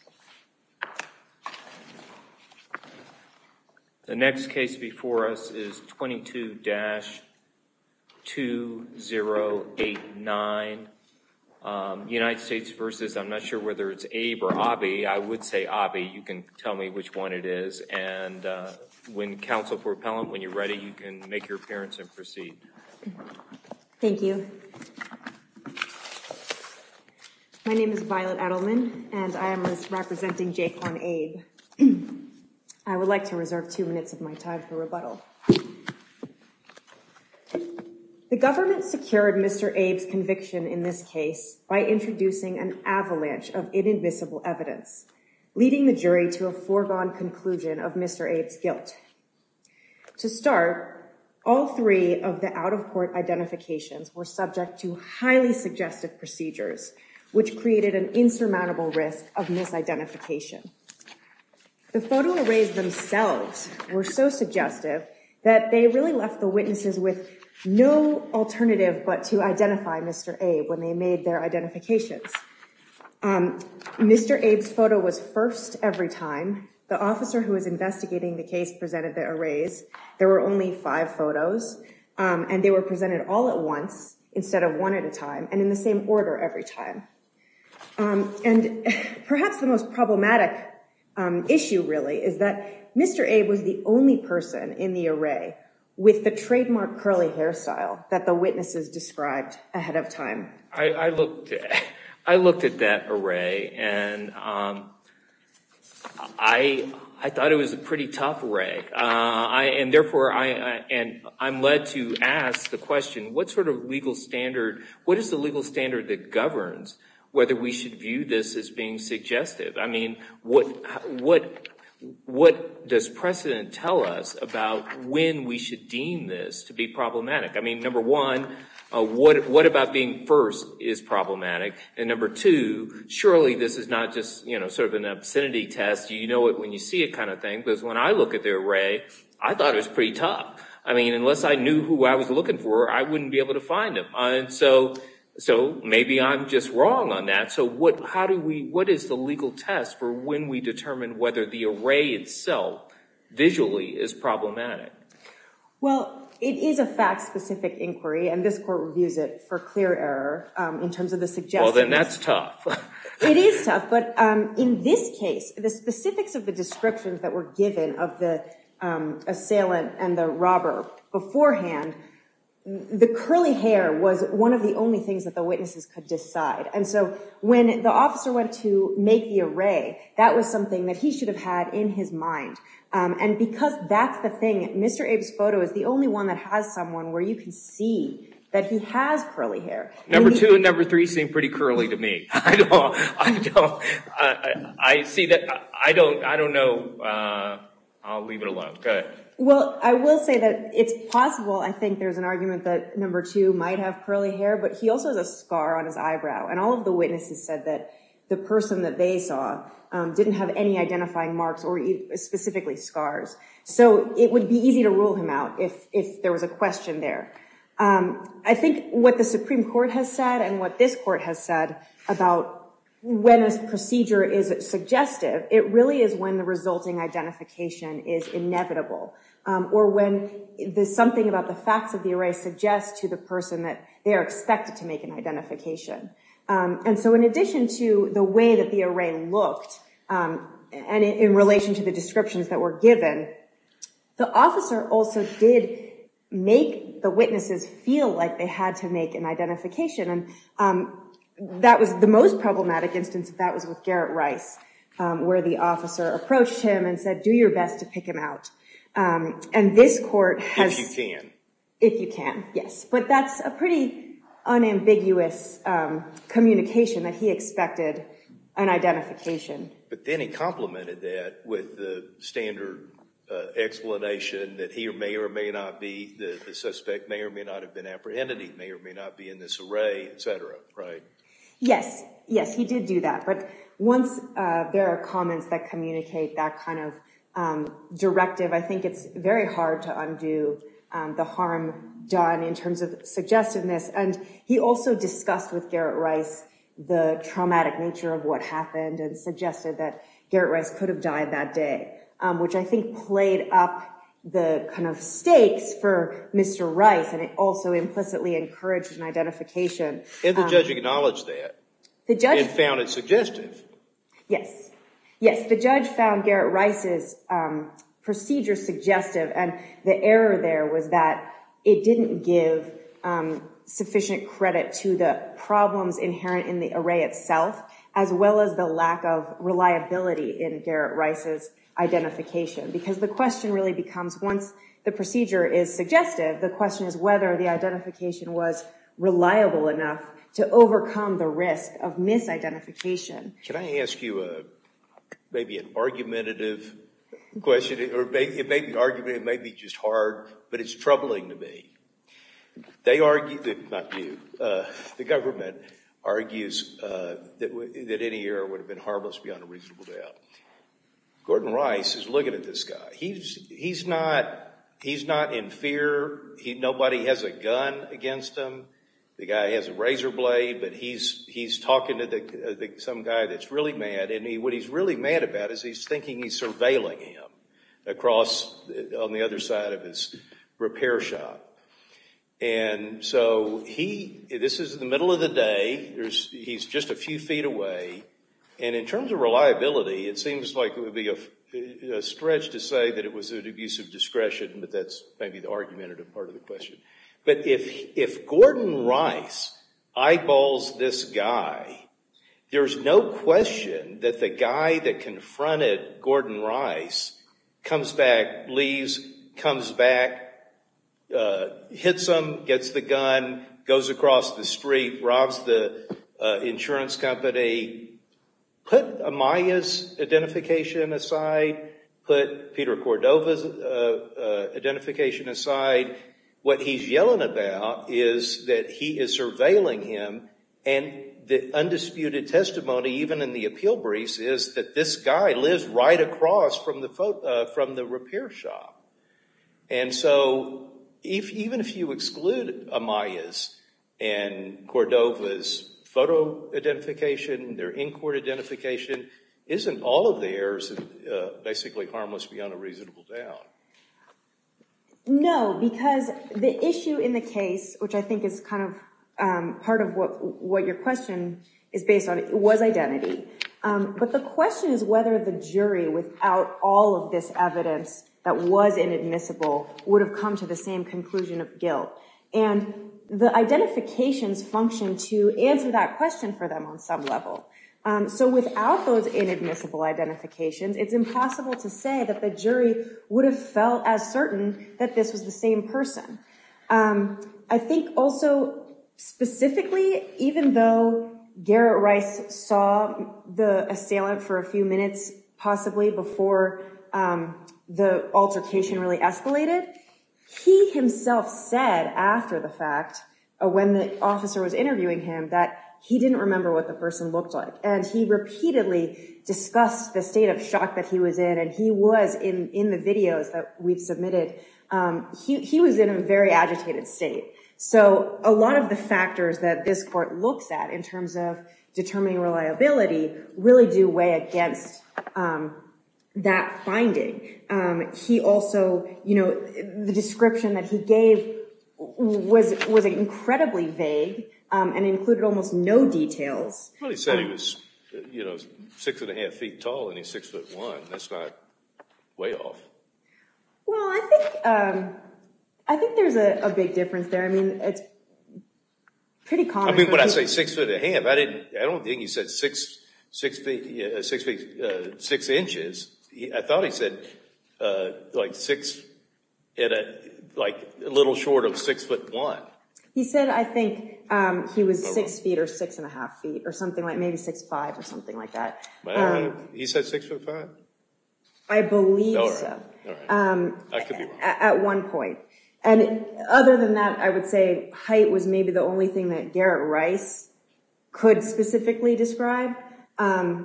or Abhi. I would say Abhi. You can tell me which one it is. And when counsel for appellant, when you're ready, you can make your appearance and proceed. Thank you. My name is Violet Edelman, and I am representing J. Conn Abe. I would like to reserve two minutes of my time for rebuttal. The government secured Mr. Abe's conviction in this case by introducing an avalanche of inadmissible evidence, leading the jury to a foregone conclusion of Mr. Abe's guilt. To start, all three of the out-of-court identifications were subject to highly suggestive and insurmountable risk of misidentification. The photo arrays themselves were so suggestive that they really left the witnesses with no alternative but to identify Mr. Abe when they made their identifications. Mr. Abe's photo was first every time. The officer who was investigating the case presented the arrays. There were only five photos, and they were And perhaps the most problematic issue, really, is that Mr. Abe was the only person in the array with the trademark curly hairstyle that the witnesses described ahead of time. I looked at that array, and I thought it was a pretty tough array. And therefore, I'm led to ask the question, what sort of legal standard, what is the legal standard that governs whether we should view this as being suggestive? I mean, what does precedent tell us about when we should deem this to be problematic? I mean, number one, what about being first is problematic? And number two, surely this is not just, you know, sort of an obscenity test, you know it when you see it kind of thing. Because when I look at the array, I thought it was pretty tough. I mean, unless I knew who I was looking for, I wouldn't be able to find them. So maybe I'm just wrong on that. So how do we, what is the legal test for when we determine whether the array itself, visually, is problematic? Well, it is a fact-specific inquiry, and this court reviews it for clear error in terms of the suggestions. Well, then that's tough. It is tough. But in this case, the specifics of the descriptions that were given of the curly hair was one of the only things that the witnesses could decide. And so when the officer went to make the array, that was something that he should have had in his mind. And because that's the thing, Mr. Abe's photo is the only one that has someone where you can see that he has curly hair. Number two and number three seem pretty curly to me. I don't, I don't, I see that, I don't, I don't know. I'll leave it alone. Go ahead. Well, I will say that it's possible, I think there's an argument that number two might have curly hair, but he also has a scar on his eyebrow. And all of the witnesses said that the person that they saw didn't have any identifying marks or specifically scars. So it would be easy to rule him out if, if there was a question there. I think what the Supreme Court has said and what this court has said about when this procedure is suggestive, it really is when the resulting identification is inevitable or when there's something about the facts of the array suggests to the person that they are expected to make an identification. And so in addition to the way that the array looked and in relation to the descriptions that were given, the officer also did make the witnesses feel like they had to make an identification. And that was the most problematic instance of that was with Garrett Rice, where the officer approached him and said, do your best to pick him out. And this court has... If you can. If you can, yes. But that's a pretty unambiguous communication that he expected an identification. But then he complimented that with the standard explanation that he may or may not be the suspect, may or may not have been apprehended, he may or may not be in this array, et cetera, right? Yes. Yes, he did do that. But once there are comments that communicate that kind of directive, I think it's very hard to undo the harm done in terms of suggestiveness. And he also discussed with Garrett Rice the traumatic nature of what happened and suggested that Garrett Rice could have died that day, which I think played up the kind of stakes for Mr. Rice. And it also implicitly encouraged an identification. And the judge acknowledged that and found it suggestive. Yes. Yes, the judge found Garrett Rice's procedure suggestive. And the error there was that it didn't give sufficient credit to the problems inherent in the array itself, as well as the lack of reliability in Garrett Rice's identification. Because the question really becomes once the to overcome the risk of misidentification. Can I ask you maybe an argumentative question? It may be argumentative, it may be just hard, but it's troubling to me. The government argues that any error would have been harmless beyond a reasonable doubt. Gordon Rice is looking at this guy. He's not in fear. Nobody has a gun against him. The guy has a razor blade, but he's talking to some guy that's really mad. And what he's really mad about is he's thinking he's surveilling him across on the other side of his repair shop. And so this is the middle of the day. He's just a few feet away. And in terms of reliability, it seems like it would be a stretch to say that it was an abuse of discretion, but that's maybe the argumentative part of the question. But if Gordon Rice eyeballs this guy, there's no question that the guy that confronted Gordon Rice comes back, leaves, comes back, hits him, gets the gun, goes across the street, robs the insurance company. Put Amaya's identification aside, put Peter Cordova's identification aside. What he's yelling about is that he is surveilling him, and the undisputed testimony even in the appeal briefs is that this guy lives right across from the repair shop. And Cordova's photo identification, their in-court identification, isn't all of theirs basically harmless beyond a reasonable doubt. No, because the issue in the case, which I think is part of what your question is based on, was identity. But the question is whether the jury, without all of this evidence that was inadmissible, would have come to the same conclusion of function to answer that question for them on some level. So without those inadmissible identifications, it's impossible to say that the jury would have felt as certain that this was the same person. I think also specifically, even though Garrett Rice saw the assailant for a few minutes possibly before the altercation really escalated, he himself said after the fact, when the officer was interviewing him, that he didn't remember what the person looked like. And he repeatedly discussed the state of shock that he was in, and he was in the videos that we've submitted, he was in a very agitated state. So a lot of the factors that this court looks at in terms of determining reliability really do weigh against that finding. He also, you know, the description that he gave was incredibly vague and included almost no details. Well, he said he was six and a half feet tall, and he's six foot one. That's not way off. Well, I think there's a big difference there. I mean, it's pretty common for people to say six foot and a half. I don't think he said six inches. I thought he said like six, like a little short of six foot one. He said I think he was six feet or six and a half feet or something like maybe six five or something like that. He said six foot five? I believe so. At one point. And other than that, I would say height was maybe the only thing that Garrett Rice could specifically describe.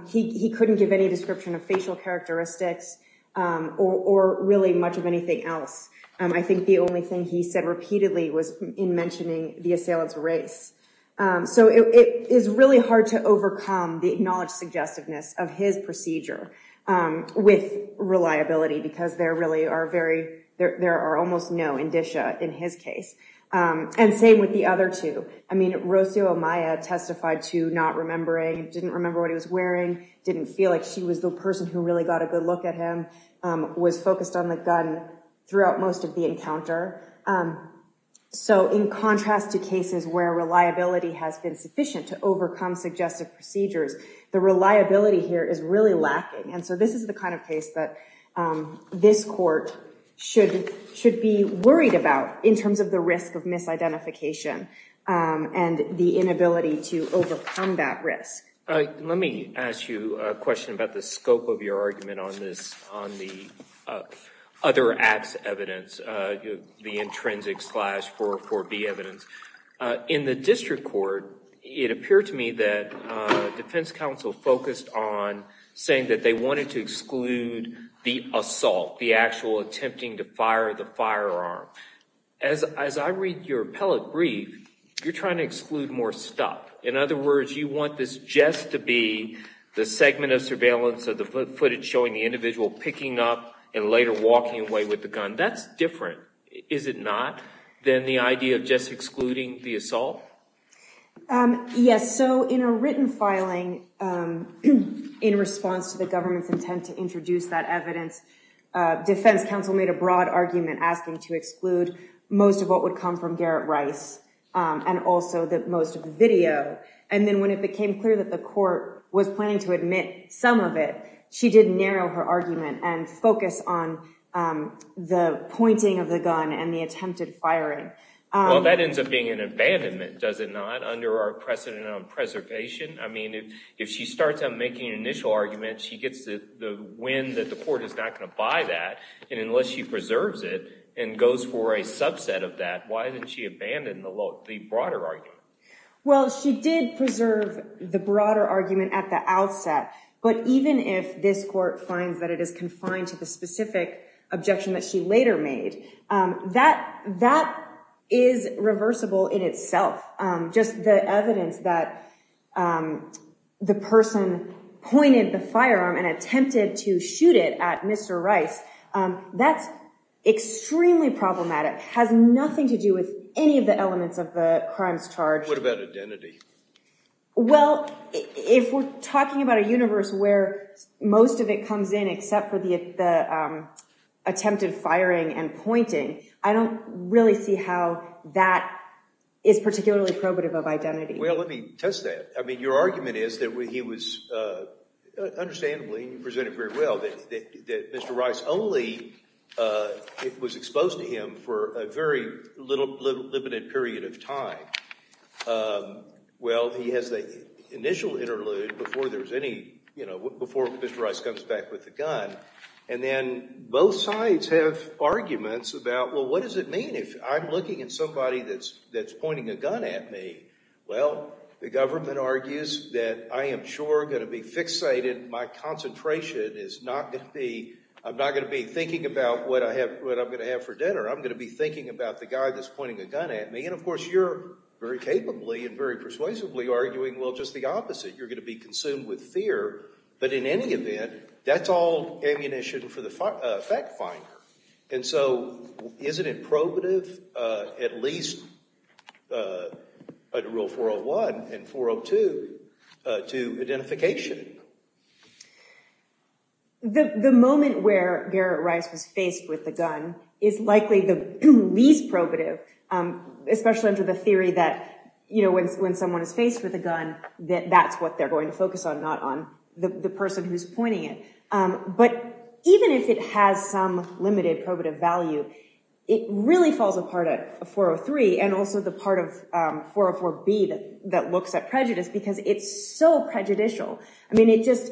He couldn't give any description of facial characteristics or really much of anything else. I think the only thing he said repeatedly was in mentioning the assailant's race. So it is really hard to overcome the acknowledged suggestiveness of his procedure with reliability, because there really are very there are almost no indicia in his case. And same with the other two. I mean, Rocio Amaya testified to not remembering, didn't remember what he was wearing, didn't feel like she was the person who really got a good look at him, was focused on the gun throughout most of the encounter. So in contrast to cases where reliability has been sufficient to overcome suggestive procedures, the reliability here is really lacking. And so this is the kind of case that this court should should be worried about in terms of the risk of misidentification and the inability to overcome that risk. Let me ask you a question about the scope of your argument on this, on the other acts evidence, the intrinsic slash 404B evidence. In the district court, it appeared to me that defense counsel focused on saying that they wanted to exclude the assault, the actual attempting to fire the firearm. As I read your appellate brief, you're trying to exclude more stuff. In other words, you want this just to be the segment of surveillance of the footage showing the individual picking up and later walking away with the gun. That's different, is it not, than the idea of just excluding the assault? Yes. So in a written filing in response to the government's intent to introduce that defense counsel made a broad argument asking to exclude most of what would come from Garrett Rice and also the most of the video. And then when it became clear that the court was planning to admit some of it, she did narrow her argument and focus on the pointing of the gun and the attempted firing. Well, that ends up being an abandonment, does it not, under our precedent on preservation? I mean, if she starts out making an initial argument, she gets the win that the court is not going to buy that. And unless she preserves it and goes for a subset of that, why didn't she abandon the broader argument? Well, she did preserve the broader argument at the outset. But even if this court finds that it is confined to the specific objection that she later made, that is reversible in itself. Just the evidence that the person pointed the firearm and attempted to shoot it at Mr. Rice, that's extremely problematic. It has nothing to do with any of the elements of the crimes charged. What about identity? Well, if we're talking about a universe where most of it comes in except for the attempted firing and pointing, I don't really see how that is particularly probative of identity. Well, let me test that. I mean, your argument is that he was understandably, you presented very well, that Mr. Rice only was exposed to him for a very limited period of time. Well, he has the initial interlude before there's any, you know, before Mr. Rice comes back with the gun. And then both sides have arguments about, well, what does it mean if I'm looking at somebody that's pointing a gun at me? Well, the government argues that I am sure going to be fixated, my concentration is not going to be, I'm not going to be thinking about what I have, what I'm going to have for dinner. I'm going to be thinking about the guy that's pointing a gun at me. And of course, you're very capably and very persuasively arguing, well, just the opposite. You're going to be consumed with fear. But in any event, that's all ammunition for the fact finder. And so isn't it probative at least under Rule 401 and 402 to identification? The moment where Garrett Rice was faced with the gun is likely the least probative, especially under the theory that, you know, when someone is faced with a gun, that that's what they're going to focus on, not on the person who's pointing it. But even if it has some limited probative value, it really falls apart at 404B that looks at prejudice, because it's so prejudicial. I mean, it just,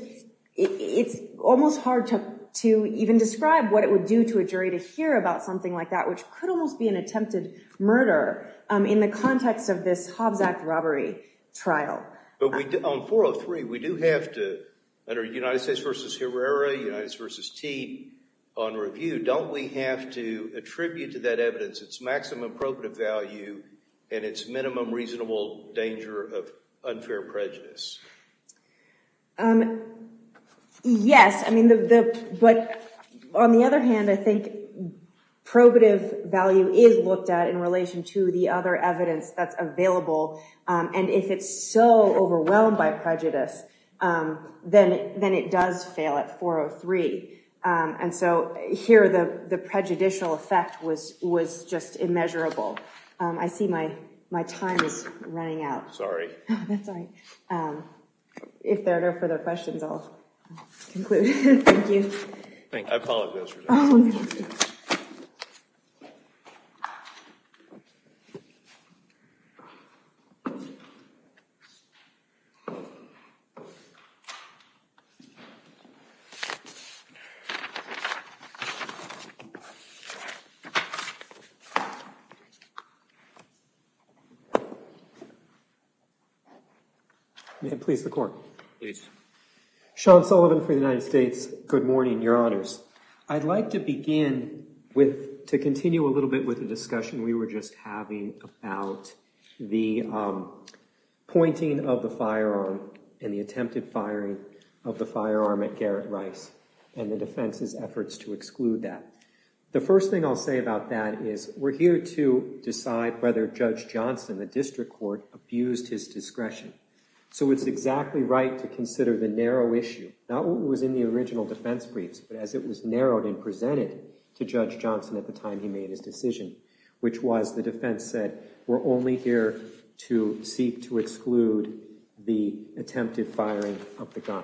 it's almost hard to even describe what it would do to a jury to hear about something like that, which could almost be an attempted murder in the context of this Hobbs Act robbery trial. But we, on 403, we do have to, under United States v. Herrera, United States v. Tee, on review, don't we have to attribute to that evidence its maximum probative value and its minimum reasonable danger of unfair prejudice? Yes, I mean, but on the other hand, I think probative value is looked at in relation to the other evidence that's available. And if it's so overwhelmed by prejudice, then it does fail at 403. And so here, the prejudicial effect was just immeasurable. I see my time is running out. Sorry. If there are no further questions, I'll conclude. Thank you. Thank you. I apologize for that. Oh, no, it's okay. May it please the Court. Please. Sean Sullivan for the United States. Good morning, Your Honors. I'd like to begin with, to continue a little bit with the discussion we were just having about the pointing of the firearm and the attempted firing of the firearm at Garrett The first thing I'll say about that is we're here to decide whether Judge Johnson, the district court, abused his discretion. So it's exactly right to consider the narrow issue, not what was in the original defense briefs, but as it was narrowed and presented to Judge Johnson at the time he made his decision, which was the defense said, we're only here to seek to exclude the attempted firing of the gun.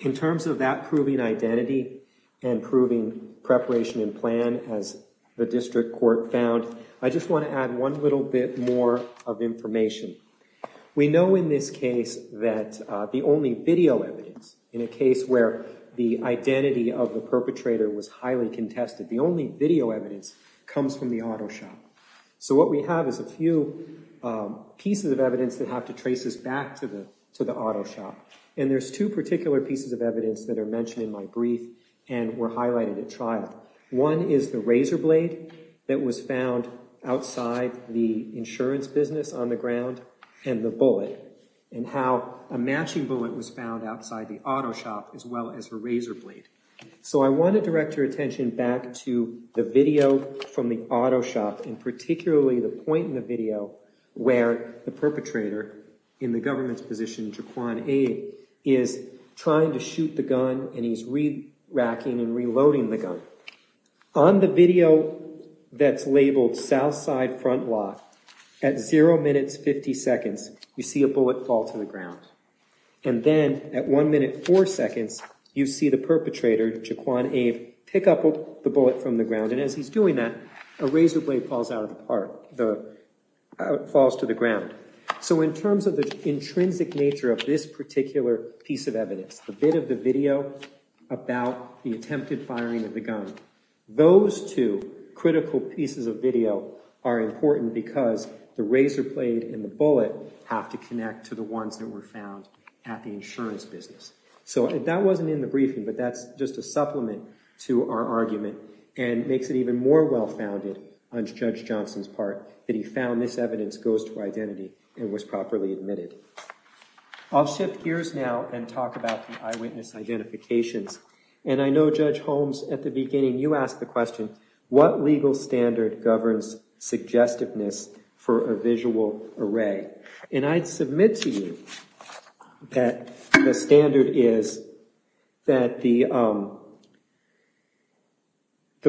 In terms of that proving identity and proving preparation and plan, as the district court found, I just want to add one little bit more of information. We know in this case that the only video evidence, in a case where the identity of the perpetrator was highly contested, the only video evidence comes from the auto shop. So what we have is a few pieces of evidence that have to trace us back to the auto shop. And there's two particular pieces of evidence that are mentioned in my brief and were highlighted at trial. One is the razor blade that was found outside the insurance business on the ground and the bullet and how a matching bullet was found outside the auto shop as well as the razor blade. So I want to direct your attention back to the video from the auto shop and particularly the point in the video where the perpetrator in the government's position, Jaquan Abe, is trying to shoot the gun and he's re-racking and reloading the gun. On the video that's labeled South Side Front Lot, at zero minutes fifty seconds, you see a bullet fall to the ground. And then at one minute four seconds, you see the perpetrator, Jaquan Abe, pick up the bullet from the ground. And as he's doing that, a razor blade falls out of the park. It falls to the ground. So in terms of the intrinsic nature of this particular piece of evidence, the bit of the video about the attempted firing of the gun, those two critical pieces of video are important because the razor blade and the bullet have to connect to the ones that were found at the insurance business. So that wasn't in the briefing, but that's just a supplement to our argument and makes it even more well-founded on Judge Johnson's part that he found this evidence goes to identity and was properly admitted. I'll shift gears now and talk about the eyewitness identifications. And I know Judge Holmes, at the beginning, you asked the question, what legal standard governs suggestiveness for a visual array? And I'd submit to you that the standard is that the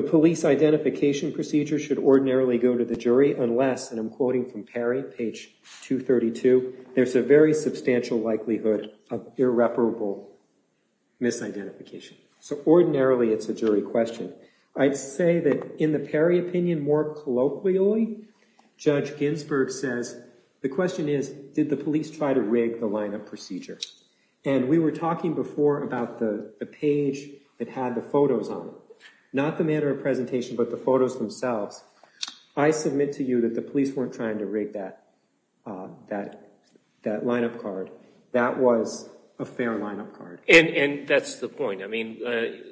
police identification procedure should ordinarily go to the jury unless, and I'm quoting from Perry, page 232, there's a very substantial likelihood of irreparable misidentification. So ordinarily, it's a jury question. I'd say that in the Perry opinion, more colloquially, Judge Ginsburg says, the question is, did the police try to rig the lineup procedure? And we were talking before about the page that had the photos on it. Not the manner of presentation, but the photos themselves. I submit to you that the police weren't trying to rig that lineup card. That was a fair lineup card. And that's the point. I mean,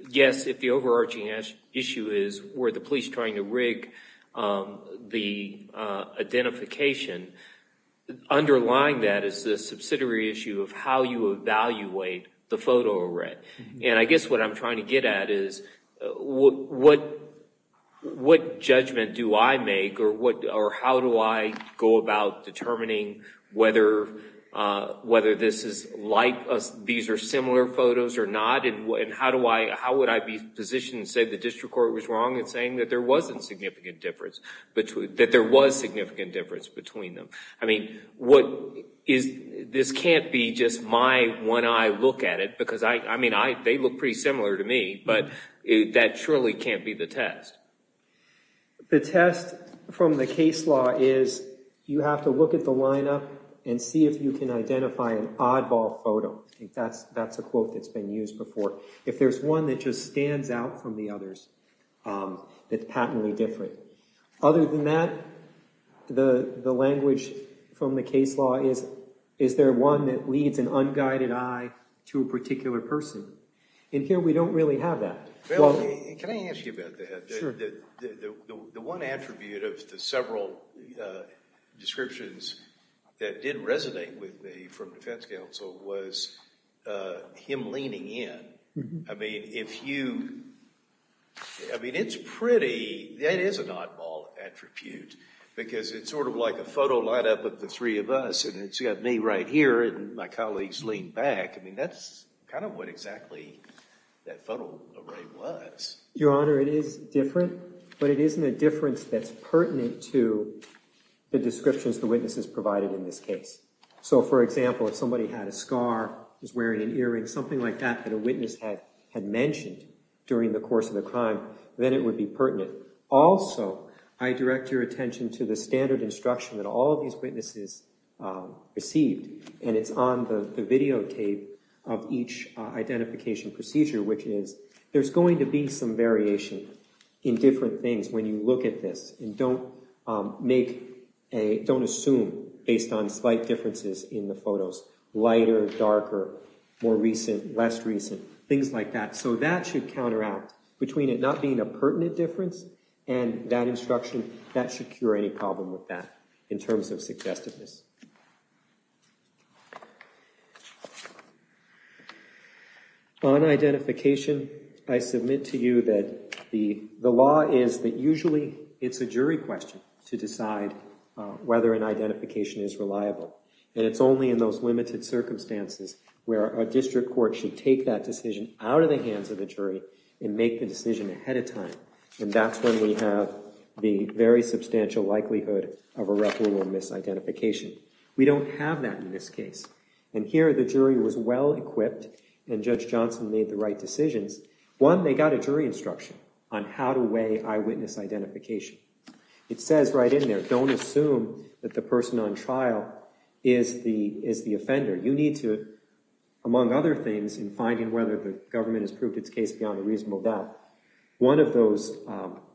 yes, if the overarching issue is, were the police trying to rig the identification, underlying that is the subsidiary issue of how you evaluate the photo array. And I guess what I'm trying to get at is, what judgment do I make or how do I go about determining whether these are similar photos or not? And how would I be positioned to say the district court was wrong in saying that there was significant difference between them? I mean, this can't be just my one eye look at it, because I mean, they look pretty similar to me, but that surely can't be the test. The test from the case law is, you have to look at the lineup and see if you can identify an oddball photo. I think that's a quote that's been used before. If there's one that just stands out from the others, that's patently different. Other than that, the language from the case law is, is there one that leads an unguided eye to a particular person? And here we don't really have that. Bill, can I ask you about that? The one attribute of the several descriptions that didn't resonate with me from defense counsel was him leaning in. I mean, if you, I mean, it's pretty, that is an oddball attribute, because it's sort of like a photo lineup of the three of us, and it's got me right here and my colleagues lean back. I mean, that's kind of what exactly that photo array was. Your Honor, it is different, but it isn't a difference that's pertinent to the descriptions the witnesses provided in this case. So, for example, if somebody had a scar, was wearing an earring, something like that, that a witness had mentioned during the course of the crime, then it would be pertinent. Also, I direct your attention to the standard instruction that all of these witnesses received, and it's on the videotape of each identification procedure, which is there's going to be some variation in different things when you look at this, and don't make a, don't assume based on slight differences in the photos, lighter, darker, more recent, less recent, things like that. So, that should counteract between it and that should cure any problem with that in terms of suggestiveness. On identification, I submit to you that the law is that usually it's a jury question to decide whether an identification is reliable, and it's only in those limited circumstances where a district court should take that decision out of the hands of the jury and make the very substantial likelihood of irreparable misidentification. We don't have that in this case, and here the jury was well equipped and Judge Johnson made the right decisions. One, they got a jury instruction on how to weigh eyewitness identification. It says right in there, don't assume that the person on trial is the offender. You need to, among other things, in finding whether the government has proved its case beyond a reasonable doubt, one of those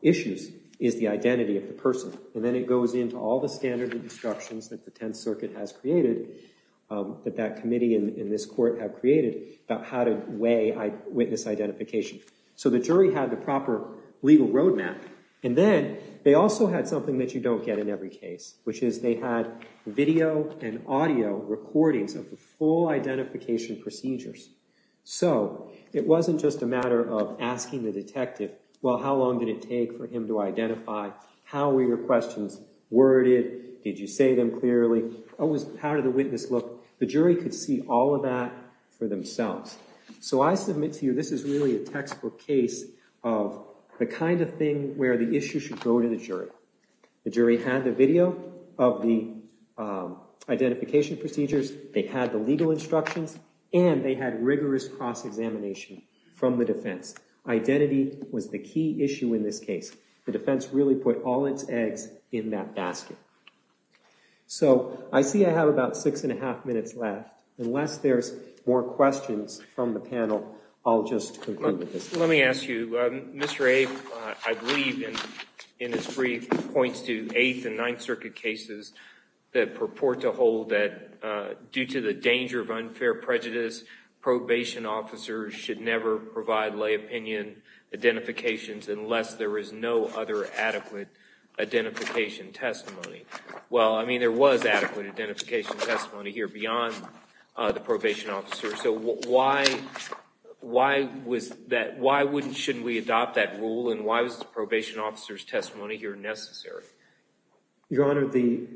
issues is the identity of the person, and then it goes into all the standard of instructions that the Tenth Circuit has created, that that committee and this court have created about how to weigh eyewitness identification. So, the jury had the proper legal roadmap, and then they also had something that you don't get in every case, which is they had video and audio recordings of the full identification procedures. So, it wasn't just a matter of asking the detective, well, how long did it take for him to identify? How were your questions worded? Did you say them clearly? How did the witness look? The jury could see all of that for themselves. So, I submit to you this is really a textbook case of the kind of thing where the issue should go to the jury. The jury had the video of the identification procedures, they had the legal instructions, and they had rigorous cross-examination from the defense. Identity was the key issue in this case. The defense really put all its eggs in that basket. So, I see I have about six and a half minutes left. Unless there's more questions from the panel, I'll just conclude with this. Let me ask you, Mr. Abe, I believe in his brief, points to Eighth and Ninth Circuit cases that purport to hold that due to the danger of unfair prejudice, probation officers should never provide lay opinion identifications unless there is no other adequate identification testimony. Well, I mean, there was adequate identification testimony here beyond the probation officer. So, why should we adopt that rule, and why was the probation officer's testimony here necessary? Your Honor, the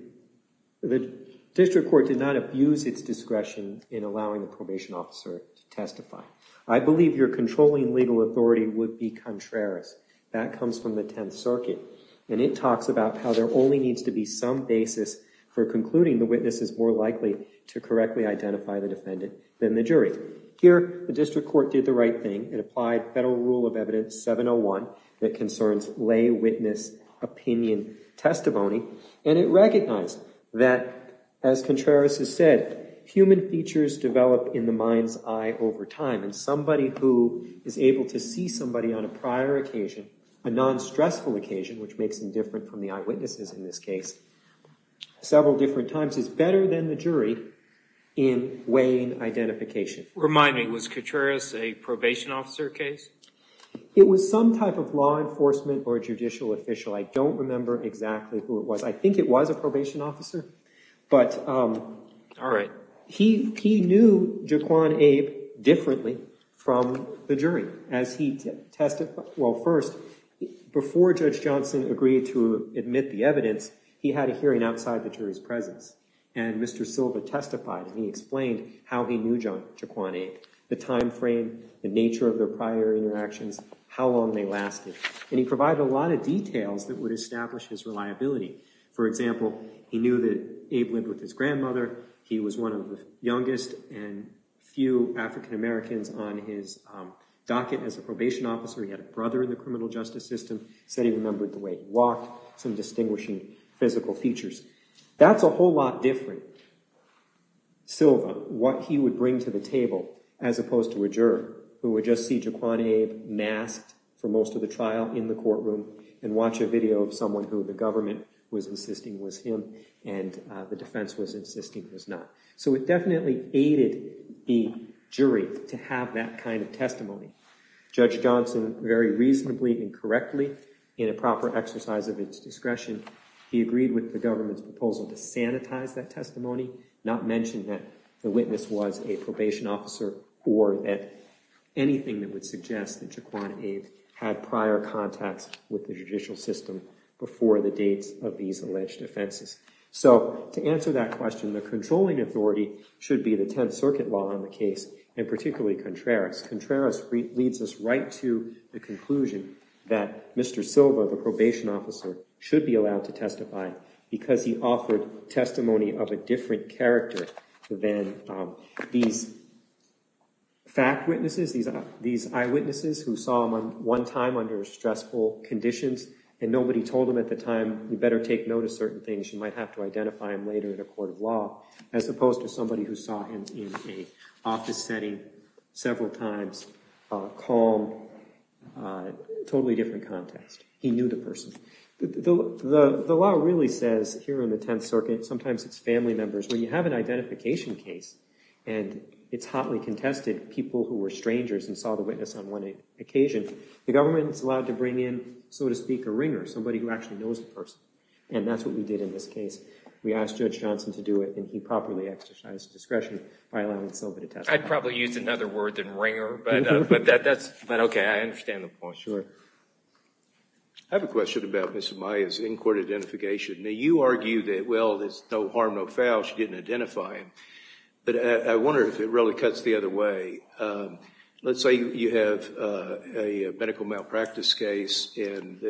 district court did not abuse its discretion in allowing the probation officer to testify. I believe your controlling legal authority would be contrarious. That comes from the Tenth Circuit, and it talks about how there only needs to be some basis for concluding the witness is more likely to correctly identify the defendant than the jury. Here, the district court did the right thing. It applied Federal Rule of Evidence 701 that concerns lay witness opinion testimony, and it recognized that, as Contreras has said, human features develop in the mind's eye over time, and somebody who is able to see somebody on a prior occasion, a non-stressful occasion, which makes them different from the eyewitnesses in this case, several different times is better than the jury in weighing identification. Remind me, was Contreras a probation officer case? It was some type of law enforcement or judicial official. I don't remember exactly who it was. I think it was a probation officer, but he knew Jaquan Abe differently from the jury. As he testified, well, first, before Judge Johnson agreed to admit the evidence, he had a hearing outside the jury's presence, and Mr. Silva testified, and he explained how he knew Jaquan Abe, the time frame, the nature of their prior interactions, how long they lasted, and he provided a lot of details that would establish his reliability. For example, he knew that Abe lived with his grandmother. He was one of the youngest and few African Americans on his docket as a probation officer. He had a brother in the criminal justice system. He said he remembered the way he walked, some distinguishing physical features. That's a lot he would bring to the table as opposed to a juror who would just see Jaquan Abe masked for most of the trial in the courtroom and watch a video of someone who the government was insisting was him and the defense was insisting was not. So it definitely aided the jury to have that kind of testimony. Judge Johnson, very reasonably and correctly, in a proper exercise of its discretion, he agreed with the government's proposal to sanitize that testimony, not mention that the witness was a probation officer or that anything that would suggest that Jaquan Abe had prior contacts with the judicial system before the dates of these alleged offenses. So to answer that question, the controlling authority should be the Tenth Circuit law in the case, and particularly Contreras. Contreras leads us right to the conclusion that Mr. Silva, the probation officer, should be allowed to testify because he offered testimony of a different character than these fact witnesses, these eyewitnesses who saw him one time under stressful conditions, and nobody told him at the time, you better take note of certain things. You might have to identify him later in a court of law, as opposed to somebody who saw him in a office setting several times, calm, totally different context. He knew the person. The law really says here in the Tenth Circuit, sometimes it's family members. When you have an identification case, and it's hotly contested people who were strangers and saw the witness on one occasion, the government is allowed to bring in, so to speak, a ringer, somebody who actually knows the person. And that's what we did in this case. We asked Judge Johnson to do it, and he properly exercised discretion by allowing Silva to testify. I'd probably use another word than ringer, but that's okay. I understand the point. Sure. I have a question about Ms. Amaya's in-court identification. Now, you argue that, well, there's no harm, no foul. She didn't identify him. But I wonder if it really cuts the other way. Let's say you have a medical malpractice case, and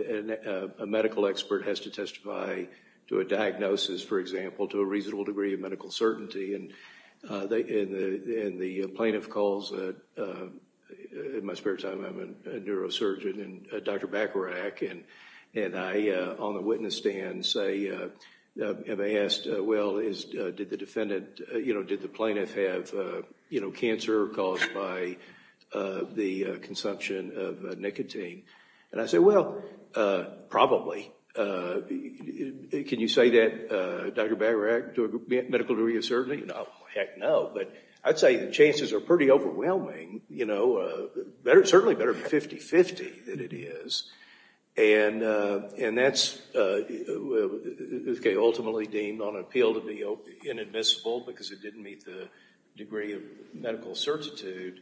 a medical expert has to testify to a diagnosis, for example, to a reasonable degree of medical certainty. And the plaintiff calls in my spare time. I'm a neurosurgeon and Dr. Bacharach. And I, on the witness stand, say, have I asked, well, did the defendant, did the plaintiff have cancer caused by the malpractice? Can you say that, Dr. Bacharach, to a medical degree of certainty? Heck no. But I'd say the chances are pretty overwhelming, certainly better than 50-50 that it is. And that's ultimately deemed on appeal to be inadmissible because it didn't meet the degree of medical certitude.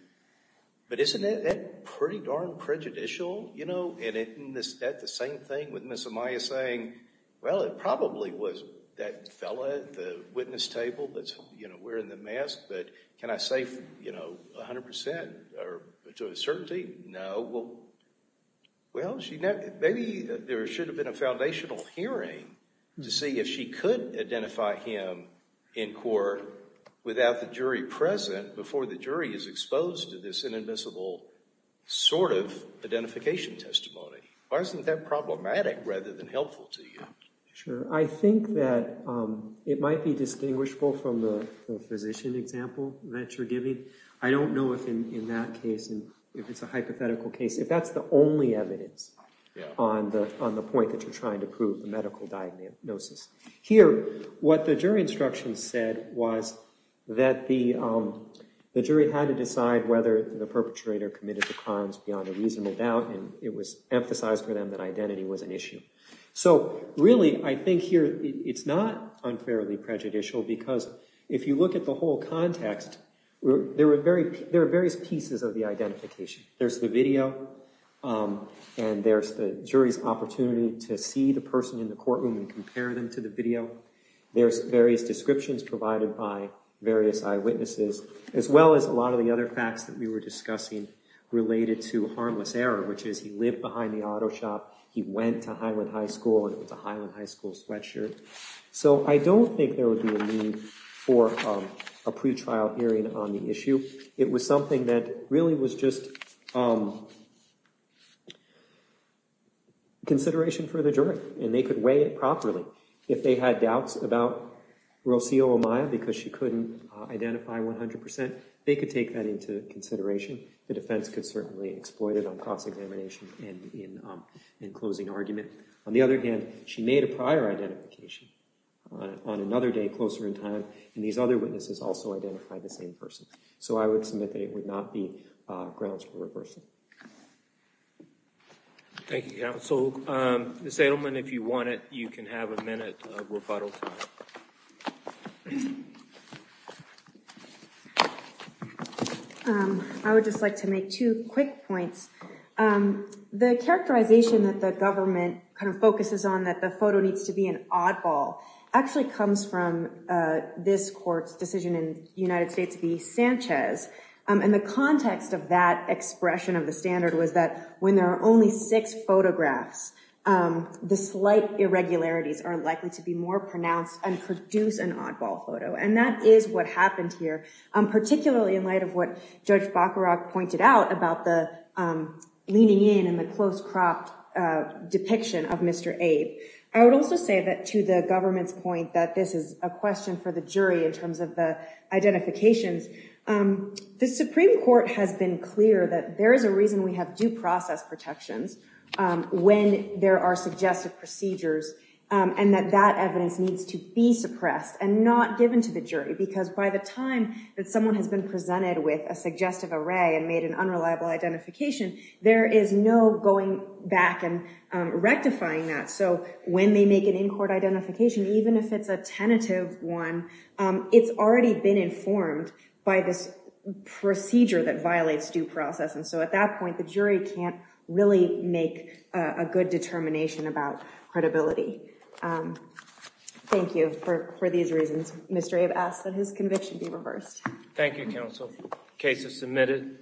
But isn't that pretty darn prejudicial? And isn't that the same thing with Ms. Amaya saying, well, it probably was that fellow at the witness table that's wearing the mask. But can I say 100% or to a certainty? No. Well, maybe there should have been a foundational hearing to see if she could identify him in court without the jury present before the jury is exposed to this inadmissible sort of identification testimony. Why isn't that problematic rather than helpful to you? Sure. I think that it might be distinguishable from the physician example that you're giving. I don't know if in that case, if it's a hypothetical case, if that's the only evidence on the point that you're trying to prove, the medical diagnosis. Here, what the jury instruction said was that the jury had to decide whether the perpetrator committed the crimes beyond a reasonable doubt. It was emphasized for them that identity was an issue. So really, I think here it's not unfairly prejudicial because if you look at the whole context, there are various pieces of the identification. There's the video and there's the jury's opportunity to see the person in the courtroom and compare them to the video. There's various descriptions provided by various eyewitnesses as well as a lot of the other facts that we were discussing related to harmless error, which is he lived behind the auto shop, he went to Highland High School and it was a Highland High School sweatshirt. So I don't think there would be a need for a pretrial hearing on the issue. It was something that really was just consideration for the jury and they could weigh it properly. If they had doubts about Rocio Amaya because she couldn't identify 100%, they could take that into consideration. The defense could certainly exploit it on cross-examination and in closing argument. On the other hand, she made a prior identification on another day closer in time and these other witnesses also identified the same person. So I would submit that it would not be grounds for reversal. Thank you, counsel. Ms. Edelman, if you want it, you can have a minute of rebuttal. I would just like to make two quick points. The characterization that the government kind of focuses on that the photo needs to be an oddball actually comes from this court's decision in the United States to be Sanchez. And the context of that expression of the standard was that when there are only six photographs, the slight irregularities are likely to be more pronounced and produce an oddball photo. And that is what happened here, particularly in light of what Judge Bacharach pointed out about the leaning in and the close-cropped depiction of Mr. Abe. I would also say that to the government's point that this is a question for the jury in terms of the identifications, the Supreme Court has been clear that there is a reason we have due process protections when there are suggestive procedures and that that evidence needs to be suppressed and not given to the jury. Because by the time that someone has been presented with a suggestive array and made an unreliable identification, there is no going back and rectifying that. So when they make an in-court identification, even if it's a tentative one, it's already been informed by this jury can't really make a good determination about credibility. Thank you for these reasons. Mr. Abe asks that his conviction be reversed. Thank you, counsel. Case is submitted.